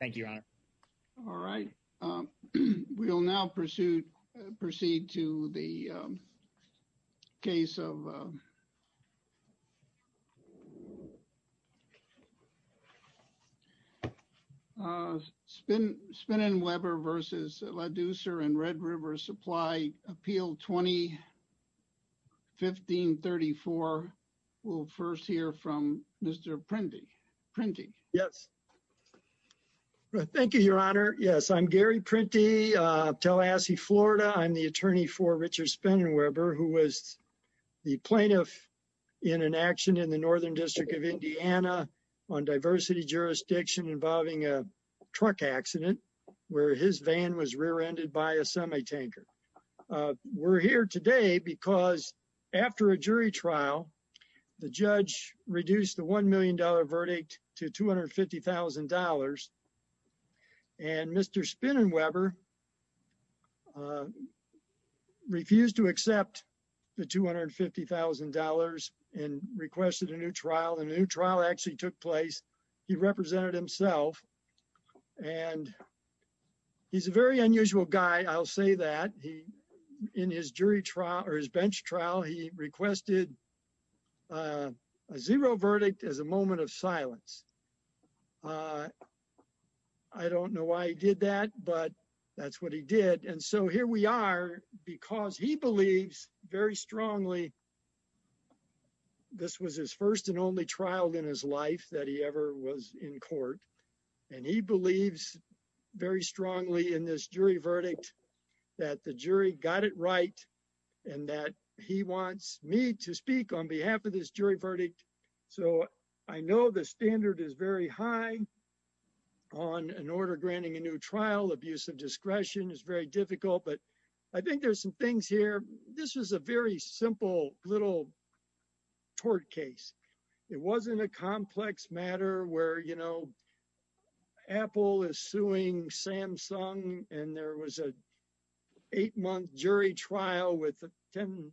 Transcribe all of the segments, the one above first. Thank you, Your Honor. All right. We will now proceed to the case of Spinnenweber v. Laducer and Red River Supply Appeal 20-1534. We'll first hear from Mr. Prindy. Yes. Thank you, Your Honor. Yes, I'm Gary Prindy of Tallahassee, Florida. I'm the attorney for Richard Spinnenweber, who was the plaintiff in an action in the Northern District of Indiana on diversity jurisdiction involving a truck accident where his van was rear-ended by a $250,000. And Mr. Spinnenweber refused to accept the $250,000 and requested a new trial. The new trial actually took place. He represented himself. And he's a very unusual guy, I'll say that. In his bench trial, he requested a zero verdict as a moment of silence. I don't know why he did that, but that's what he did. And so here we are, because he believes very strongly this was his first and only trial in his life that he ever was in court. And he got it right and that he wants me to speak on behalf of this jury verdict. So I know the standard is very high on an order granting a new trial. Abuse of discretion is very difficult. But I think there's some things here. This is a very simple little tort case. It wasn't a complex matter where Apple is suing Samsung and there was an eight-month jury trial with 10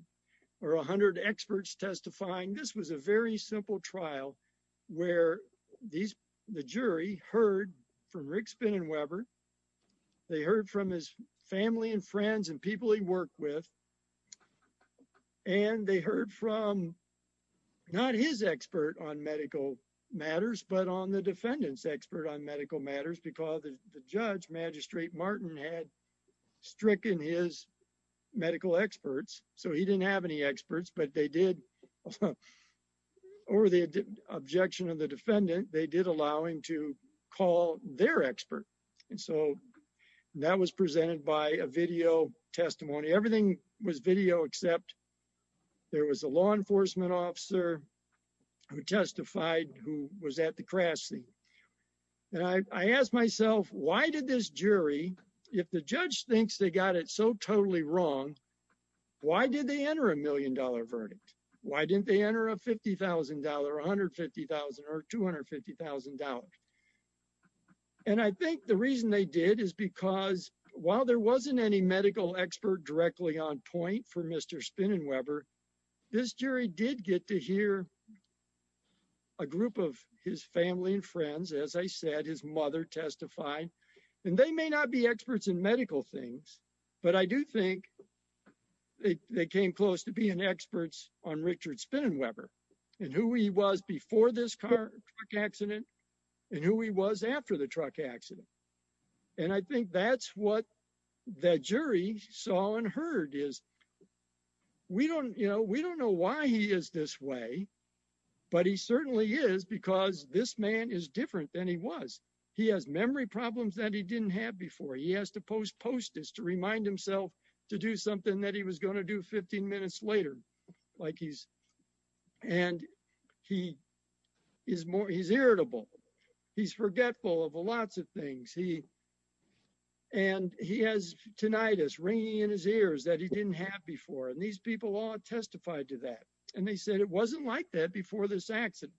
or 100 experts testifying. This was a very simple trial where the jury heard from Rick Spinnenweber. They heard from his family and friends and people he worked with. And they heard from not his expert on medical matters, but on the defendant's expert on medical matters because the judge, Magistrate Martin, had stricken his medical experts. So he didn't have any experts, but they did, over the objection of the defendant, they did allow him to call their expert. And so that was presented by a video testimony. Everything was video except there was a law enforcement officer who testified who was at the crash scene. And I asked myself, why did this jury, if the judge thinks they got it so totally wrong, why did they enter a million-dollar verdict? Why didn't they enter a $50,000 or $150,000 or $250,000? And I think the reason they did is because while there wasn't any medical expert directly on point for Mr. Spinnenweber, this jury did get to hear a group of his family and friends, as I said, his mother testified. And they may not be experts in medical things, but I do think they came close to being experts on Richard Spinnenweber and who he was before this truck accident and who he was after the truck accident. And I think that's what the jury saw and heard is we don't know why he is this way, but he certainly is because this man is different than he was. He has memory problems that he didn't have before. He has to post post this to remind himself to do something that he was going to do 15 minutes later. And he's irritable. He's forgetful of lots of things. And he has tinnitus ringing in his ears that he didn't have before. And these people all testified to that. And they said it wasn't like that before this accident.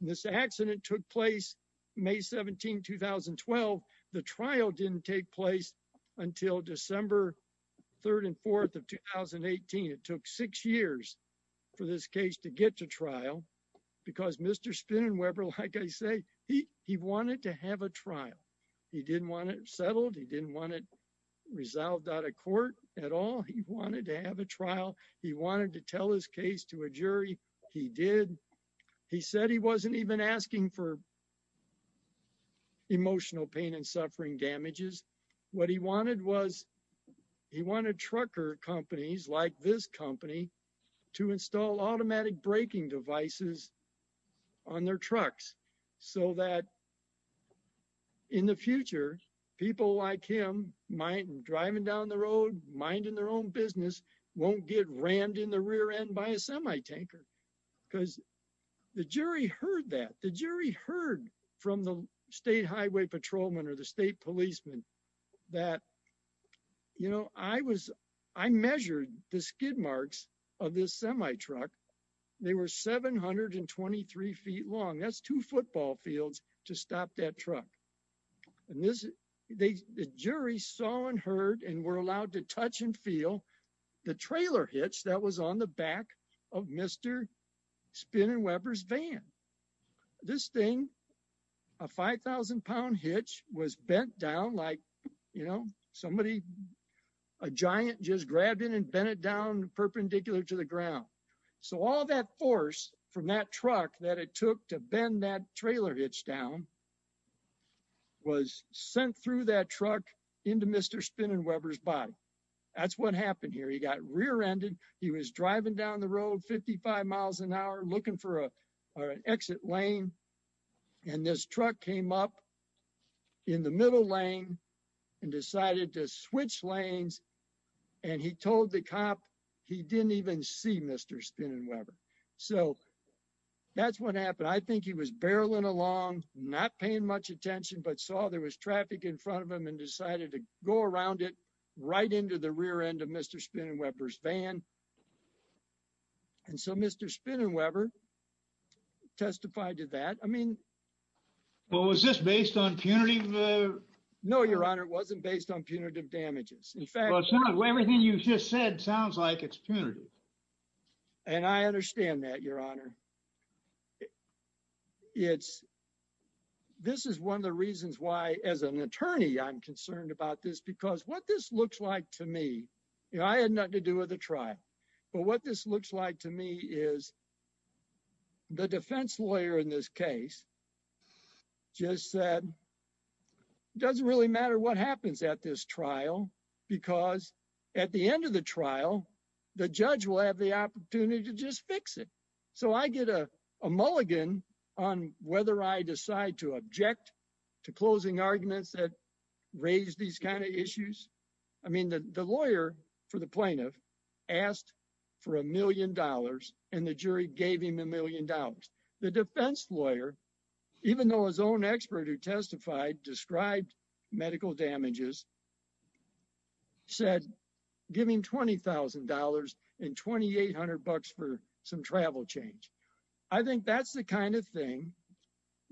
This accident took place May 17, 2012. The trial didn't take place until December 3rd and 4th of 2018. It took six years for this case to get to trial because Mr. Spinnenweber, like I say, he wanted to have a trial. He didn't want it settled. He didn't want it resolved out of court at all. He wanted to have a trial. He wanted to tell his case to a jury. He did. He said he wasn't even asking for emotional pain and suffering damages. What he wanted was he wanted trucker companies like this company to install automatic braking devices on their trucks so that in the future, people like him driving down the road, minding their own business, won't get rammed in the rear end by a semi-tanker. Because the jury heard that. The jury heard from the state highway patrolman or the state policeman that, you know, I measured the skid marks of this semi-truck. They were 723 feet long. That's two football fields to stop that truck. The jury saw and heard and were allowed to touch and feel the trailer hitch that was on the back of Mr. Spinnenweber's van. This thing, a 5,000 pound hitch, was bent down like, you know, somebody, a giant just grabbed it and bent it down perpendicular to the ground. So all that force from that truck that it took to bend that trailer hitch down was sent through that truck into Mr. Spinnenweber's body. That's what happened here. He got rear-ended. He was driving down the road 55 miles an hour looking for an exit lane. And this truck came up in the middle lane and decided to switch lanes. And he told the cop he didn't even see Mr. Spinnenweber. So that's what happened. I think he was barreling along, not paying much attention, but saw there was traffic in front of him and decided to go around it right into the rear end of Mr. Spinnenweber's van. And so Mr. Spinnenweber testified to that. I mean... Well, was this based on punitive... No, Your Honor, it wasn't based on punitive damages. In fact... Well, everything you've just said sounds like it's punitive. And I understand that, Your Honor. It's... This is one of the reasons why, as an attorney, I'm concerned about this because what this looks like to me, you know, I had nothing to do with the case. Just said it doesn't really matter what happens at this trial because at the end of the trial, the judge will have the opportunity to just fix it. So I get a mulligan on whether I decide to object to closing arguments that raise these kind of issues. I mean, the lawyer for the plaintiff asked for a million dollars and the jury gave him a million dollars. The defense lawyer, even though his own expert who testified described medical damages, said give him $20,000 and 2,800 bucks for some travel change. I think that's the kind of thing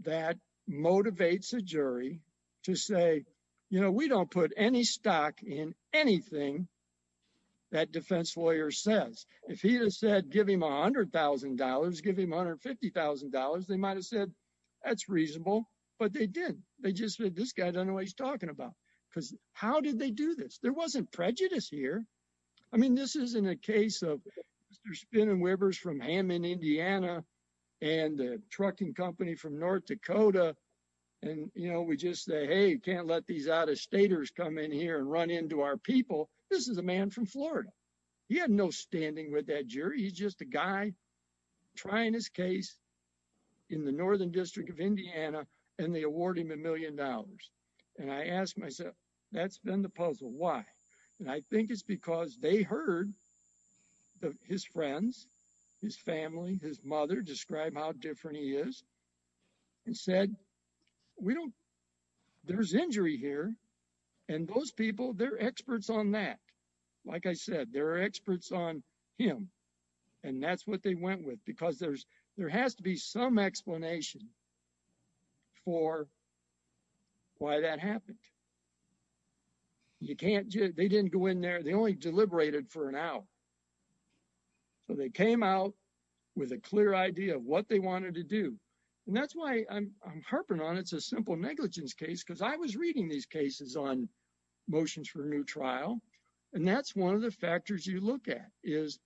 that motivates a jury to say, you know, we don't put any stock in anything that defense lawyer says. If he had said, give him $100,000, give him $150,000, they might have said, that's reasonable. But they didn't. They just said, this guy doesn't know what he's talking about. Because how did they do this? There wasn't prejudice here. I mean, this isn't a case of Mr. Spinnenwebers from Hammond, Indiana and the trucking company from North Dakota. And, you know, we just say, hey, can't let these out of staters come in here and run into our people. This is a man from Florida. He had no standing with that jury. He's just a guy trying his case in the Northern District of Indiana and they award him a million dollars. And I asked myself, that's been the puzzle. Why? And I think it's because they heard the, his friends, his family, his mother describe how different he is and said, we don't, there's injury here. And those people, they're experts on that. Like I said, there are experts on him. And that's what they went with because there's, there has to be some explanation for why that happened. You can't, they didn't go in there. They only deliberated for an hour. So they came out with a clear idea of what they wanted to do. And that's why I'm harping on. It's a simple negligence case. Cause I was reading these cases on motions for a new trial. And that's one of the factors you look at is,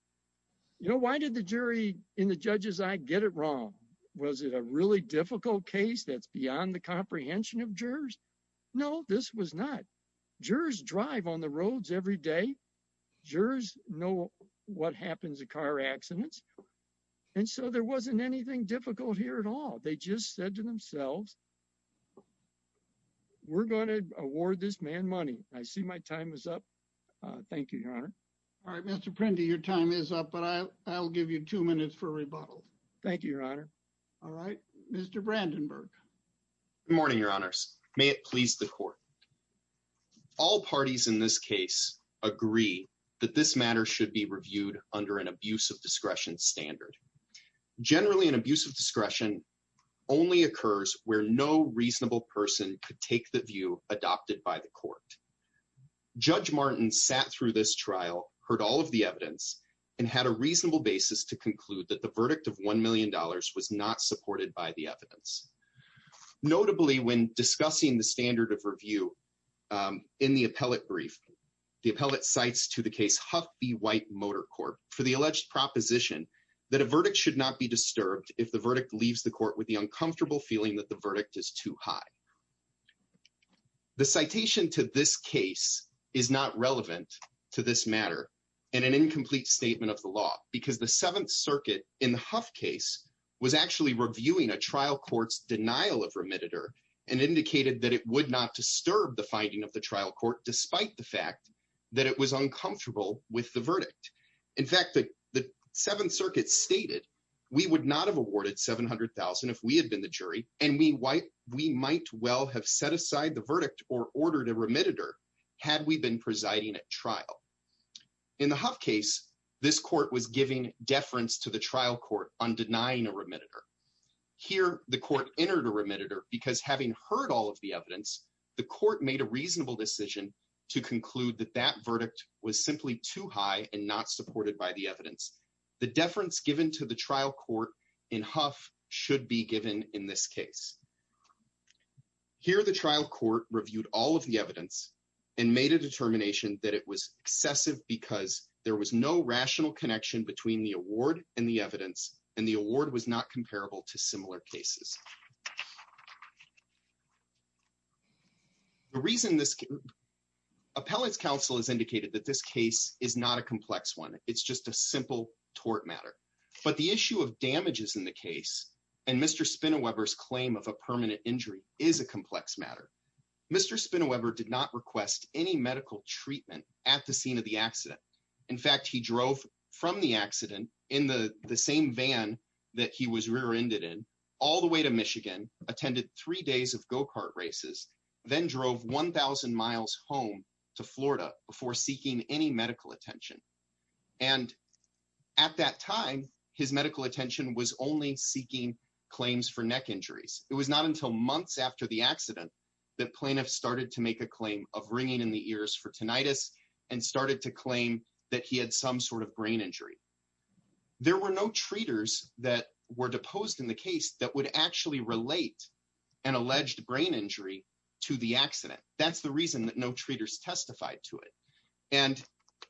you know, why did the jury in the judges? I get it wrong. Was it a really difficult case? That's beyond the comprehension of jurors. No, this was not. Jurors drive on the roads every day. Jurors know what happens to car accidents. And so there wasn't anything difficult here at all. They just said to themselves, we're going to award this man money. I see my time is up. Thank you, Your Honor. All right, Mr. Prendy, your time is up, but I'll give you two minutes for rebuttal. Thank you, Your Honor. All right, Mr. Brandenburg. Good morning, Your Honors. May it please the court. All parties in this case agree that this matter should be reviewed under an abuse of discretion standard. Generally an abuse of discretion only occurs where no reasonable person could take the view adopted by the court. Judge Martin sat through this trial, heard all of the evidence and had a reasonable basis to conclude that the verdict of $1 million was not supported by the evidence. Notably, when discussing the standard of review in the appellate brief, the appellate cites to the case Huff v. White Motor Corp for the alleged proposition that a verdict should not be disturbed if the verdict leaves the court with the uncomfortable feeling that the verdict is too high. The citation to this case is not relevant to this matter and an incomplete statement of the law because the Seventh Circuit in the Huff case was actually reviewing a trial court's denial of remitter and indicated that it would not disturb the finding of the trial court despite the fact that it was uncomfortable with the verdict. In fact, the Seventh Circuit stated, we would not have awarded $700,000 if we had been the jury and we might well have set aside the verdict or ordered a remitter had we been presiding at trial. In the Huff case, this court was giving deference to the trial court on denying a remitter. Here, the court entered a remitter because having heard all of the evidence, the court made a reasonable decision to conclude that that verdict was simply too high and not supported by the evidence. The deference given to the trial court in Huff should be given in this case. Here, the trial court reviewed all the evidence and made a determination that it was excessive because there was no rational connection between the award and the evidence and the award was not comparable to similar cases. The reason this, Appellate's counsel has indicated that this case is not a complex one. It's just a simple tort matter. But the issue of damages in the case and Mr. Spinaweber's claim of a permanent injury is a complex matter. Mr. Spinaweber did not request any medical treatment at the scene of the accident. In fact, he drove from the accident in the same van that he was rear-ended in all the way to Michigan, attended three days of go-kart races, then drove 1,000 miles home to Florida before seeking any medical attention. And at that time, his medical attention was only claims for neck injuries. It was not until months after the accident that plaintiffs started to make a claim of ringing in the ears for tinnitus and started to claim that he had some sort of brain injury. There were no treaters that were deposed in the case that would actually relate an alleged brain injury to the accident. That's the reason that no treaters testified to it. And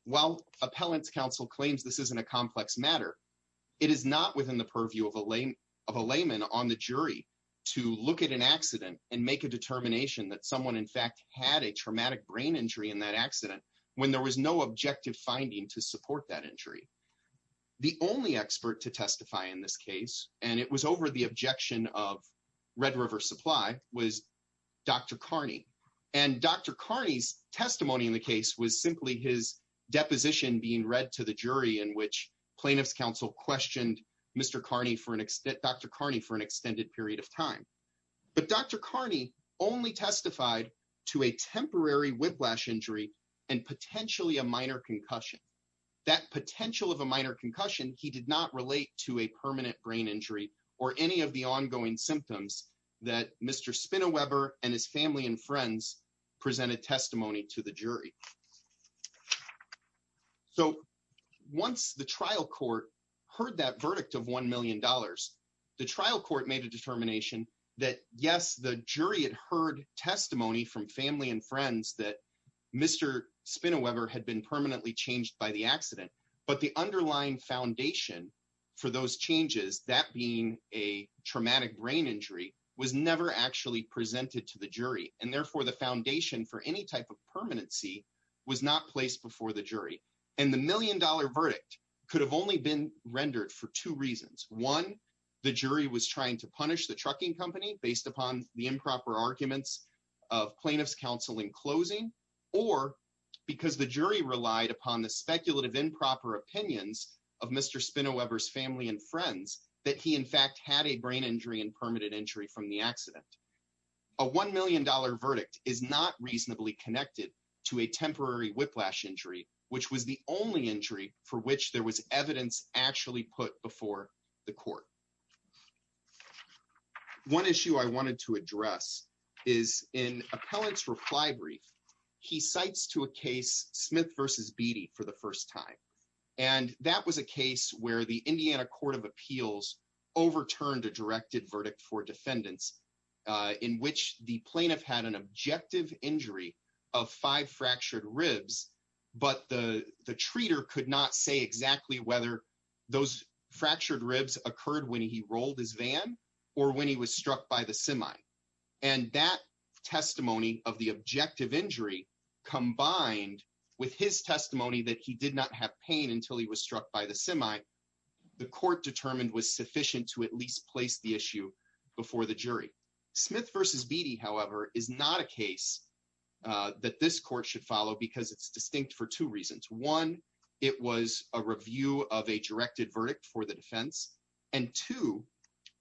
while Appellate's counsel claims this isn't a complex matter, it is not in the purview of a layman on the jury to look at an accident and make a determination that someone in fact had a traumatic brain injury in that accident when there was no objective finding to support that injury. The only expert to testify in this case, and it was over the objection of Red River Supply, was Dr. Carney. And Dr. Carney's testimony in the case was simply his for an extended period of time. But Dr. Carney only testified to a temporary whiplash injury and potentially a minor concussion. That potential of a minor concussion, he did not relate to a permanent brain injury or any of the ongoing symptoms that Mr. Spineweber and his family and friends presented testimony to the jury. So once the trial court heard that verdict of $1 million, the trial court made a determination that, yes, the jury had heard testimony from family and friends that Mr. Spineweber had been permanently changed by the accident. But the underlying foundation for those changes, that being a traumatic brain injury, was never actually presented to the jury. And therefore, the foundation for any type of permanency was not placed before the jury. And the million-dollar verdict could have only been One, the jury was trying to punish the trucking company based upon the improper arguments of plaintiffs' counsel in closing, or because the jury relied upon the speculative improper opinions of Mr. Spineweber's family and friends that he, in fact, had a brain injury and permitted injury from the accident. A $1 million verdict is not reasonably connected to a temporary whiplash injury, which was the only injury for which there was evidence actually put before the court. One issue I wanted to address is in Appellant's reply brief, he cites to a case Smith v. Beattie for the first time. And that was a case where the Indiana Court of Appeals overturned a directed verdict for defendants in which the plaintiff had an objective injury of five fractured ribs, but the treater could not say exactly whether those fractured ribs occurred when he rolled his van or when he was struck by the semi. And that testimony of the objective injury combined with his testimony that he did not have pain until he was struck by the semi, the court determined was sufficient to at least place the issue before the jury. Smith v. Beattie, however, is not a case that this court should follow because it's distinct for two reasons. One, it was a review of a directed verdict for the defense. And two,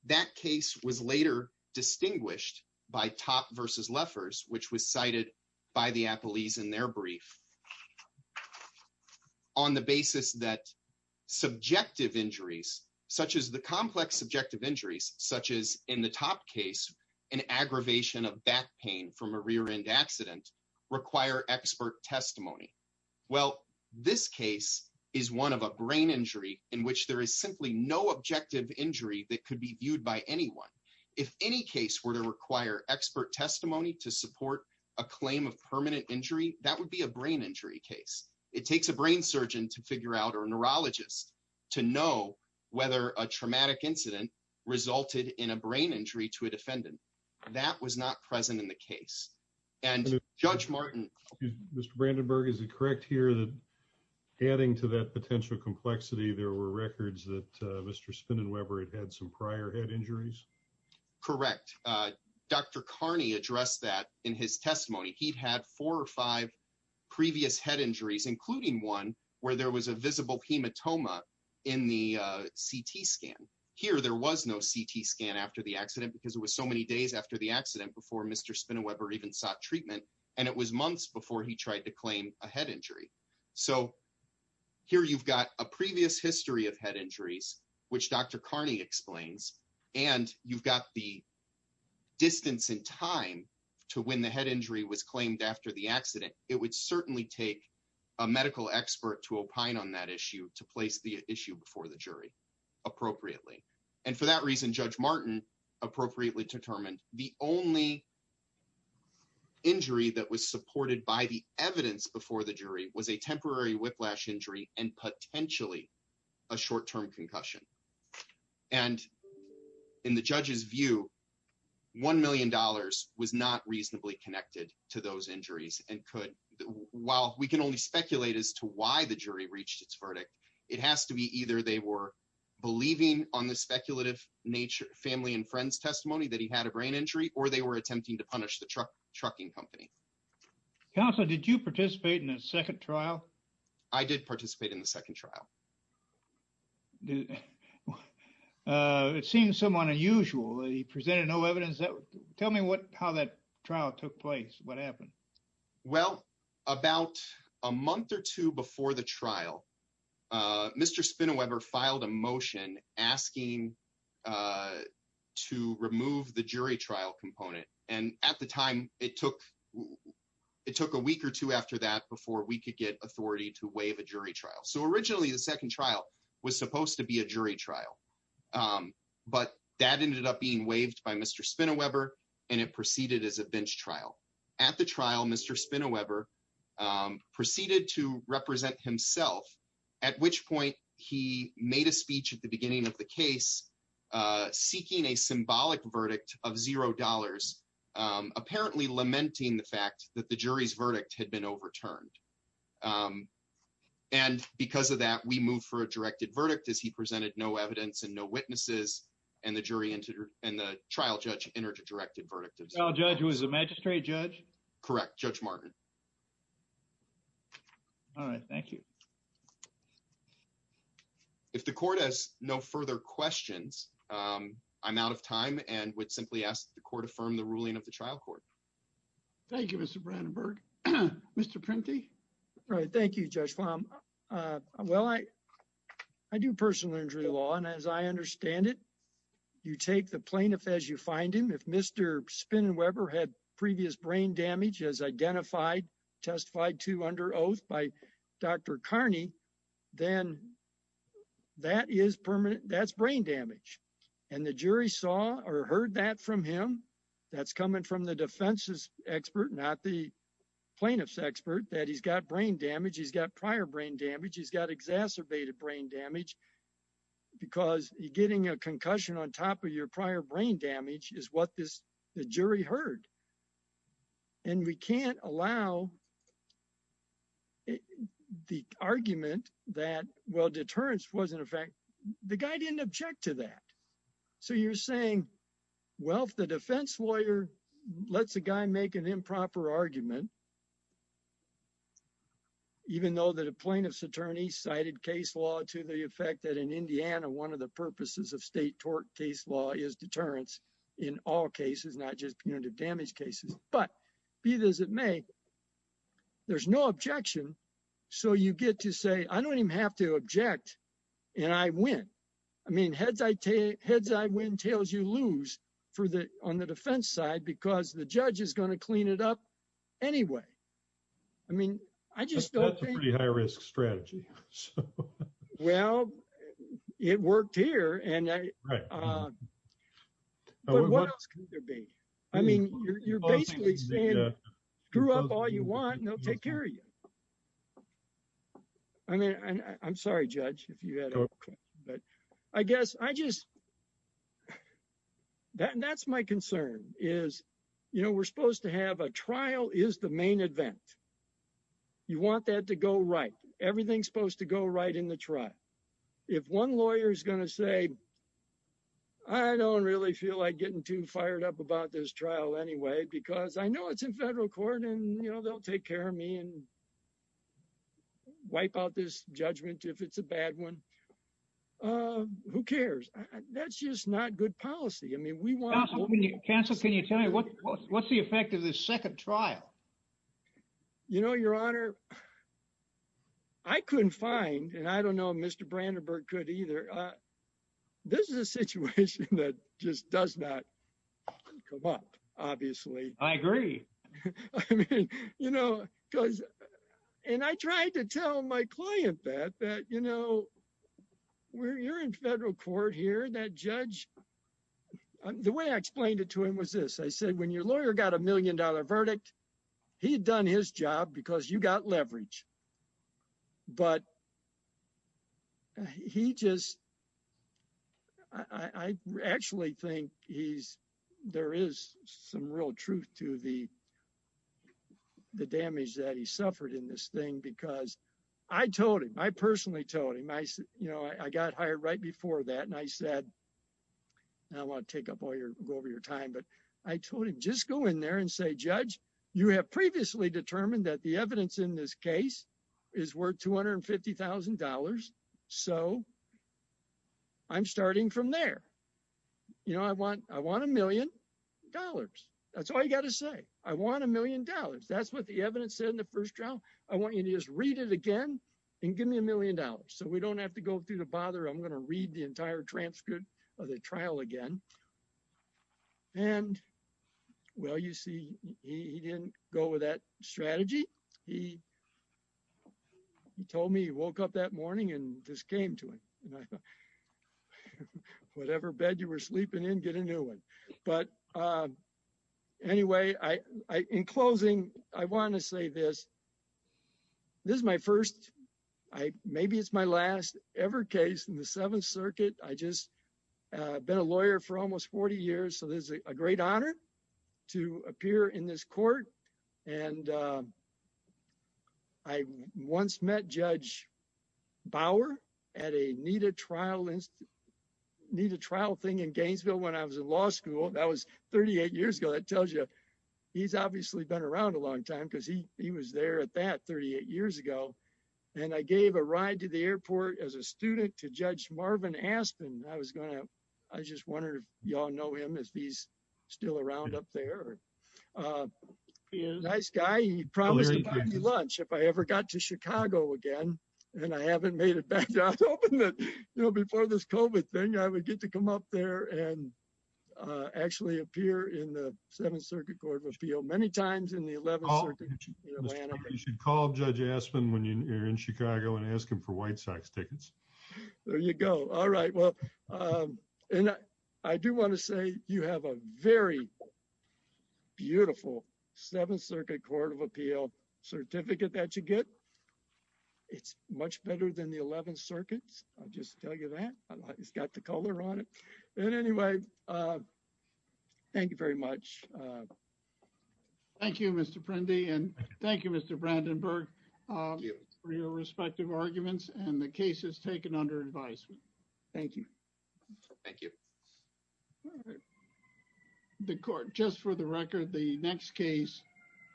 that case was later distinguished by Topp v. Leffers, which was cited by the Appellees in their brief on the basis that subjective injuries, such as the complex subjective injuries, such as in the Topp case, an aggravation of back pain from a rear end accident, require expert testimony. Well, this case is one of a brain injury in which there is simply no objective injury that could be viewed by anyone. If any case were to require expert testimony to support a claim of permanent injury, that would be a brain injury case. It takes a brain surgeon to figure out, or a neurologist, to know whether a traumatic incident resulted in a brain injury to a defendant. That was not present in the case. And Judge Martin. Excuse me, Mr. Brandenburg, is it correct here that adding to that potential complexity, there were records that Mr. Spinnen Weber had had some prior head injuries? Correct. Dr. Carney addressed that in his testimony. He'd had four or five previous head injuries, including one where there was a visible hematoma in the CT scan. Here there was no CT scan after the accident because it was so many days after the accident before Mr. Spinnen Weber even sought treatment. And it was months before he tried to claim a head injury. So here you've got a previous history of head injuries, which Dr. Carney explains, and you've got the distance in time to when the head injury was claimed after the accident. It would certainly take a medical expert to opine on that issue to place the issue before the jury appropriately. And for that reason, Judge Martin appropriately determined the only injury that was supported by the evidence before the jury was a temporary whiplash injury and potentially a short-term concussion. And in the judge's view, $1 million was not reasonably connected to those injuries and could, while we can only speculate as to why the jury reached its verdict, it has to be either they were believing on the speculative nature, family and friends testimony that he had a brain injury, or they were attempting to punish the trucking company. Counselor, did you participate in the second trial? I did participate in the second trial. It seems somewhat unusual. He presented no evidence. Tell me what, how that trial took place. What happened? Well, about a month or two before the trial, Mr. Spinnen Weber filed a motion asking to remove the jury trial component. And at the time it took, it took a week or two after that before we could get authority to waive a jury trial. So originally the second trial was supposed to be a jury trial, but that ended up being waived by Mr. Spinnen Weber and it proceeded as a bench trial. At the trial, Mr. Spinnen Weber proceeded to represent himself, at which point he made a speech at the beginning of the case, seeking a symbolic verdict of zero dollars, apparently lamenting the fact that the jury's verdict had been overturned. And because of that, we moved for a directed verdict as he presented no evidence and no witnesses and the jury and the trial judge entered a directed verdict. The trial judge was a magistrate judge? Correct. Judge Martin. All right. Thank you. If the court has no further questions, I'm out of time and would simply ask the court affirm the ruling of the trial court. Thank you, Mr. Brandenburg. Mr. Prenti. All right. Thank you, Judge Fahm. Well, I, I do personal injury law and as I understand it, you take the plaintiff as you find him. If Mr. Spinnen Weber had previous brain damage as identified, testified to under oath by Dr. Carney, then that is permanent, that's brain damage. And the jury saw or heard that from him, that's coming from the defense's expert, not the plaintiff's expert, that he's got brain damage. He's got prior brain damage. He's got exacerbated brain damage because you're getting a concussion on top of your prior brain damage is what this, the jury heard. And we can't allow the argument that, well, deterrence wasn't a fact. The guy didn't object to that. So you're saying, well, if the defense lawyer lets a guy make an improper argument, even though that a plaintiff's attorney cited case law to the effect that in Indiana, one of the purposes of state tort case law is deterrence in all cases, not just punitive damage cases, but be it as it may, there's no objection. So you get to say, I don't even have to object and I win. I mean, heads I win, tails you lose for the, on the defense side, because the judge is going to clean it up anyway. I mean, I just don't think- That's a pretty high risk strategy. Well, it worked here and I- Right. But what else can there be? I mean, you're basically saying screw up all you want and they'll take care of you. I mean, I'm sorry, judge, if you had a question, but I guess I just, that's my concern is, we're supposed to have a trial is the main event. You want that to go right. Everything's supposed to go right in the trial. If one lawyer is going to say, I don't really feel like getting too fired up about this trial anyway, because I know it's in federal court and they'll take care of me and wipe out this judgment if it's a bad one. Who cares? That's just not good policy. I mean, we want- Counsel, can you tell me what's the effect of this second trial? You know, your honor, I couldn't find, and I don't know if Mr. Brandenburg could either. This is a situation that just does not come up, obviously. I agree. I mean, you know, because, and I tried to tell my client that, that, you know, where you're in federal court here, that judge, the way I explained it to him was this. I said, when your lawyer got a million dollar verdict, he had done his job because you got leverage. But he just, I actually think he's, there is some real truth to the damage that he suffered in this thing, because I told him, I personally told him, you know, I got hired right before that. And I said, now I want to take up all your, go over your time, but I told him, just go in there and say, judge, you have previously determined that the evidence in this case is worth $250,000. So I'm starting from there. You know, I want a million dollars. That's all you got to say. I want a million dollars. That's what the evidence said in the first trial. I want you to just read it again and give me a million dollars. So we don't have to go through the bother. I'm going to read the entire transcript of the trial again. And well, you see, he didn't go with that strategy. He told me he woke up that morning and just came to him. Whatever bed you were sleeping in, get a new one. But anyway, I, in closing, I want to say this, this is my first, maybe it's my last ever case in the Seventh Circuit. I just been a lawyer for almost 40 years. So this is a great honor to appear in this court. And I once met Judge Bauer at a NIDA trial, NIDA trial thing in Gainesville when I was in law school. That was 38 years ago. That tells you he's obviously been around a long time because he, he was there at that 38 years ago. And I gave a ride to the airport as a student to Judge Marvin Aspin. I was going to, I just wonder if y'all know him, if he's still around up there. He's a nice guy. He promised to buy me lunch if I ever got to Chicago again, and I haven't made it back. I was hoping that, you know, before this COVID thing, I would get to come up there and actually appear in the Seventh Circuit Court of Appeal, many times in the Eleventh Circuit in Atlanta. You should call Judge Aspin when you're in Chicago and ask him for White Sox tickets. There you go. All right. Well, and I do want to say you have a very beautiful Seventh Circuit Court of Appeal certificate that you get. It's much better than the Eleventh Circuit's. I'll just tell you that. It's got the color on it. And anyway, thank you very much. Thank you, Mr. Prendy, and thank you, Mr. Brandenburg, for your respective arguments and the cases taken under advisement. Thank you. Thank you. All right. The Court, just for the record, the next case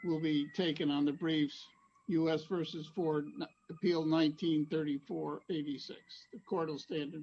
will be taken on the briefs U.S. v. Ford, Appeal 1934-86. The Court will stand in recess.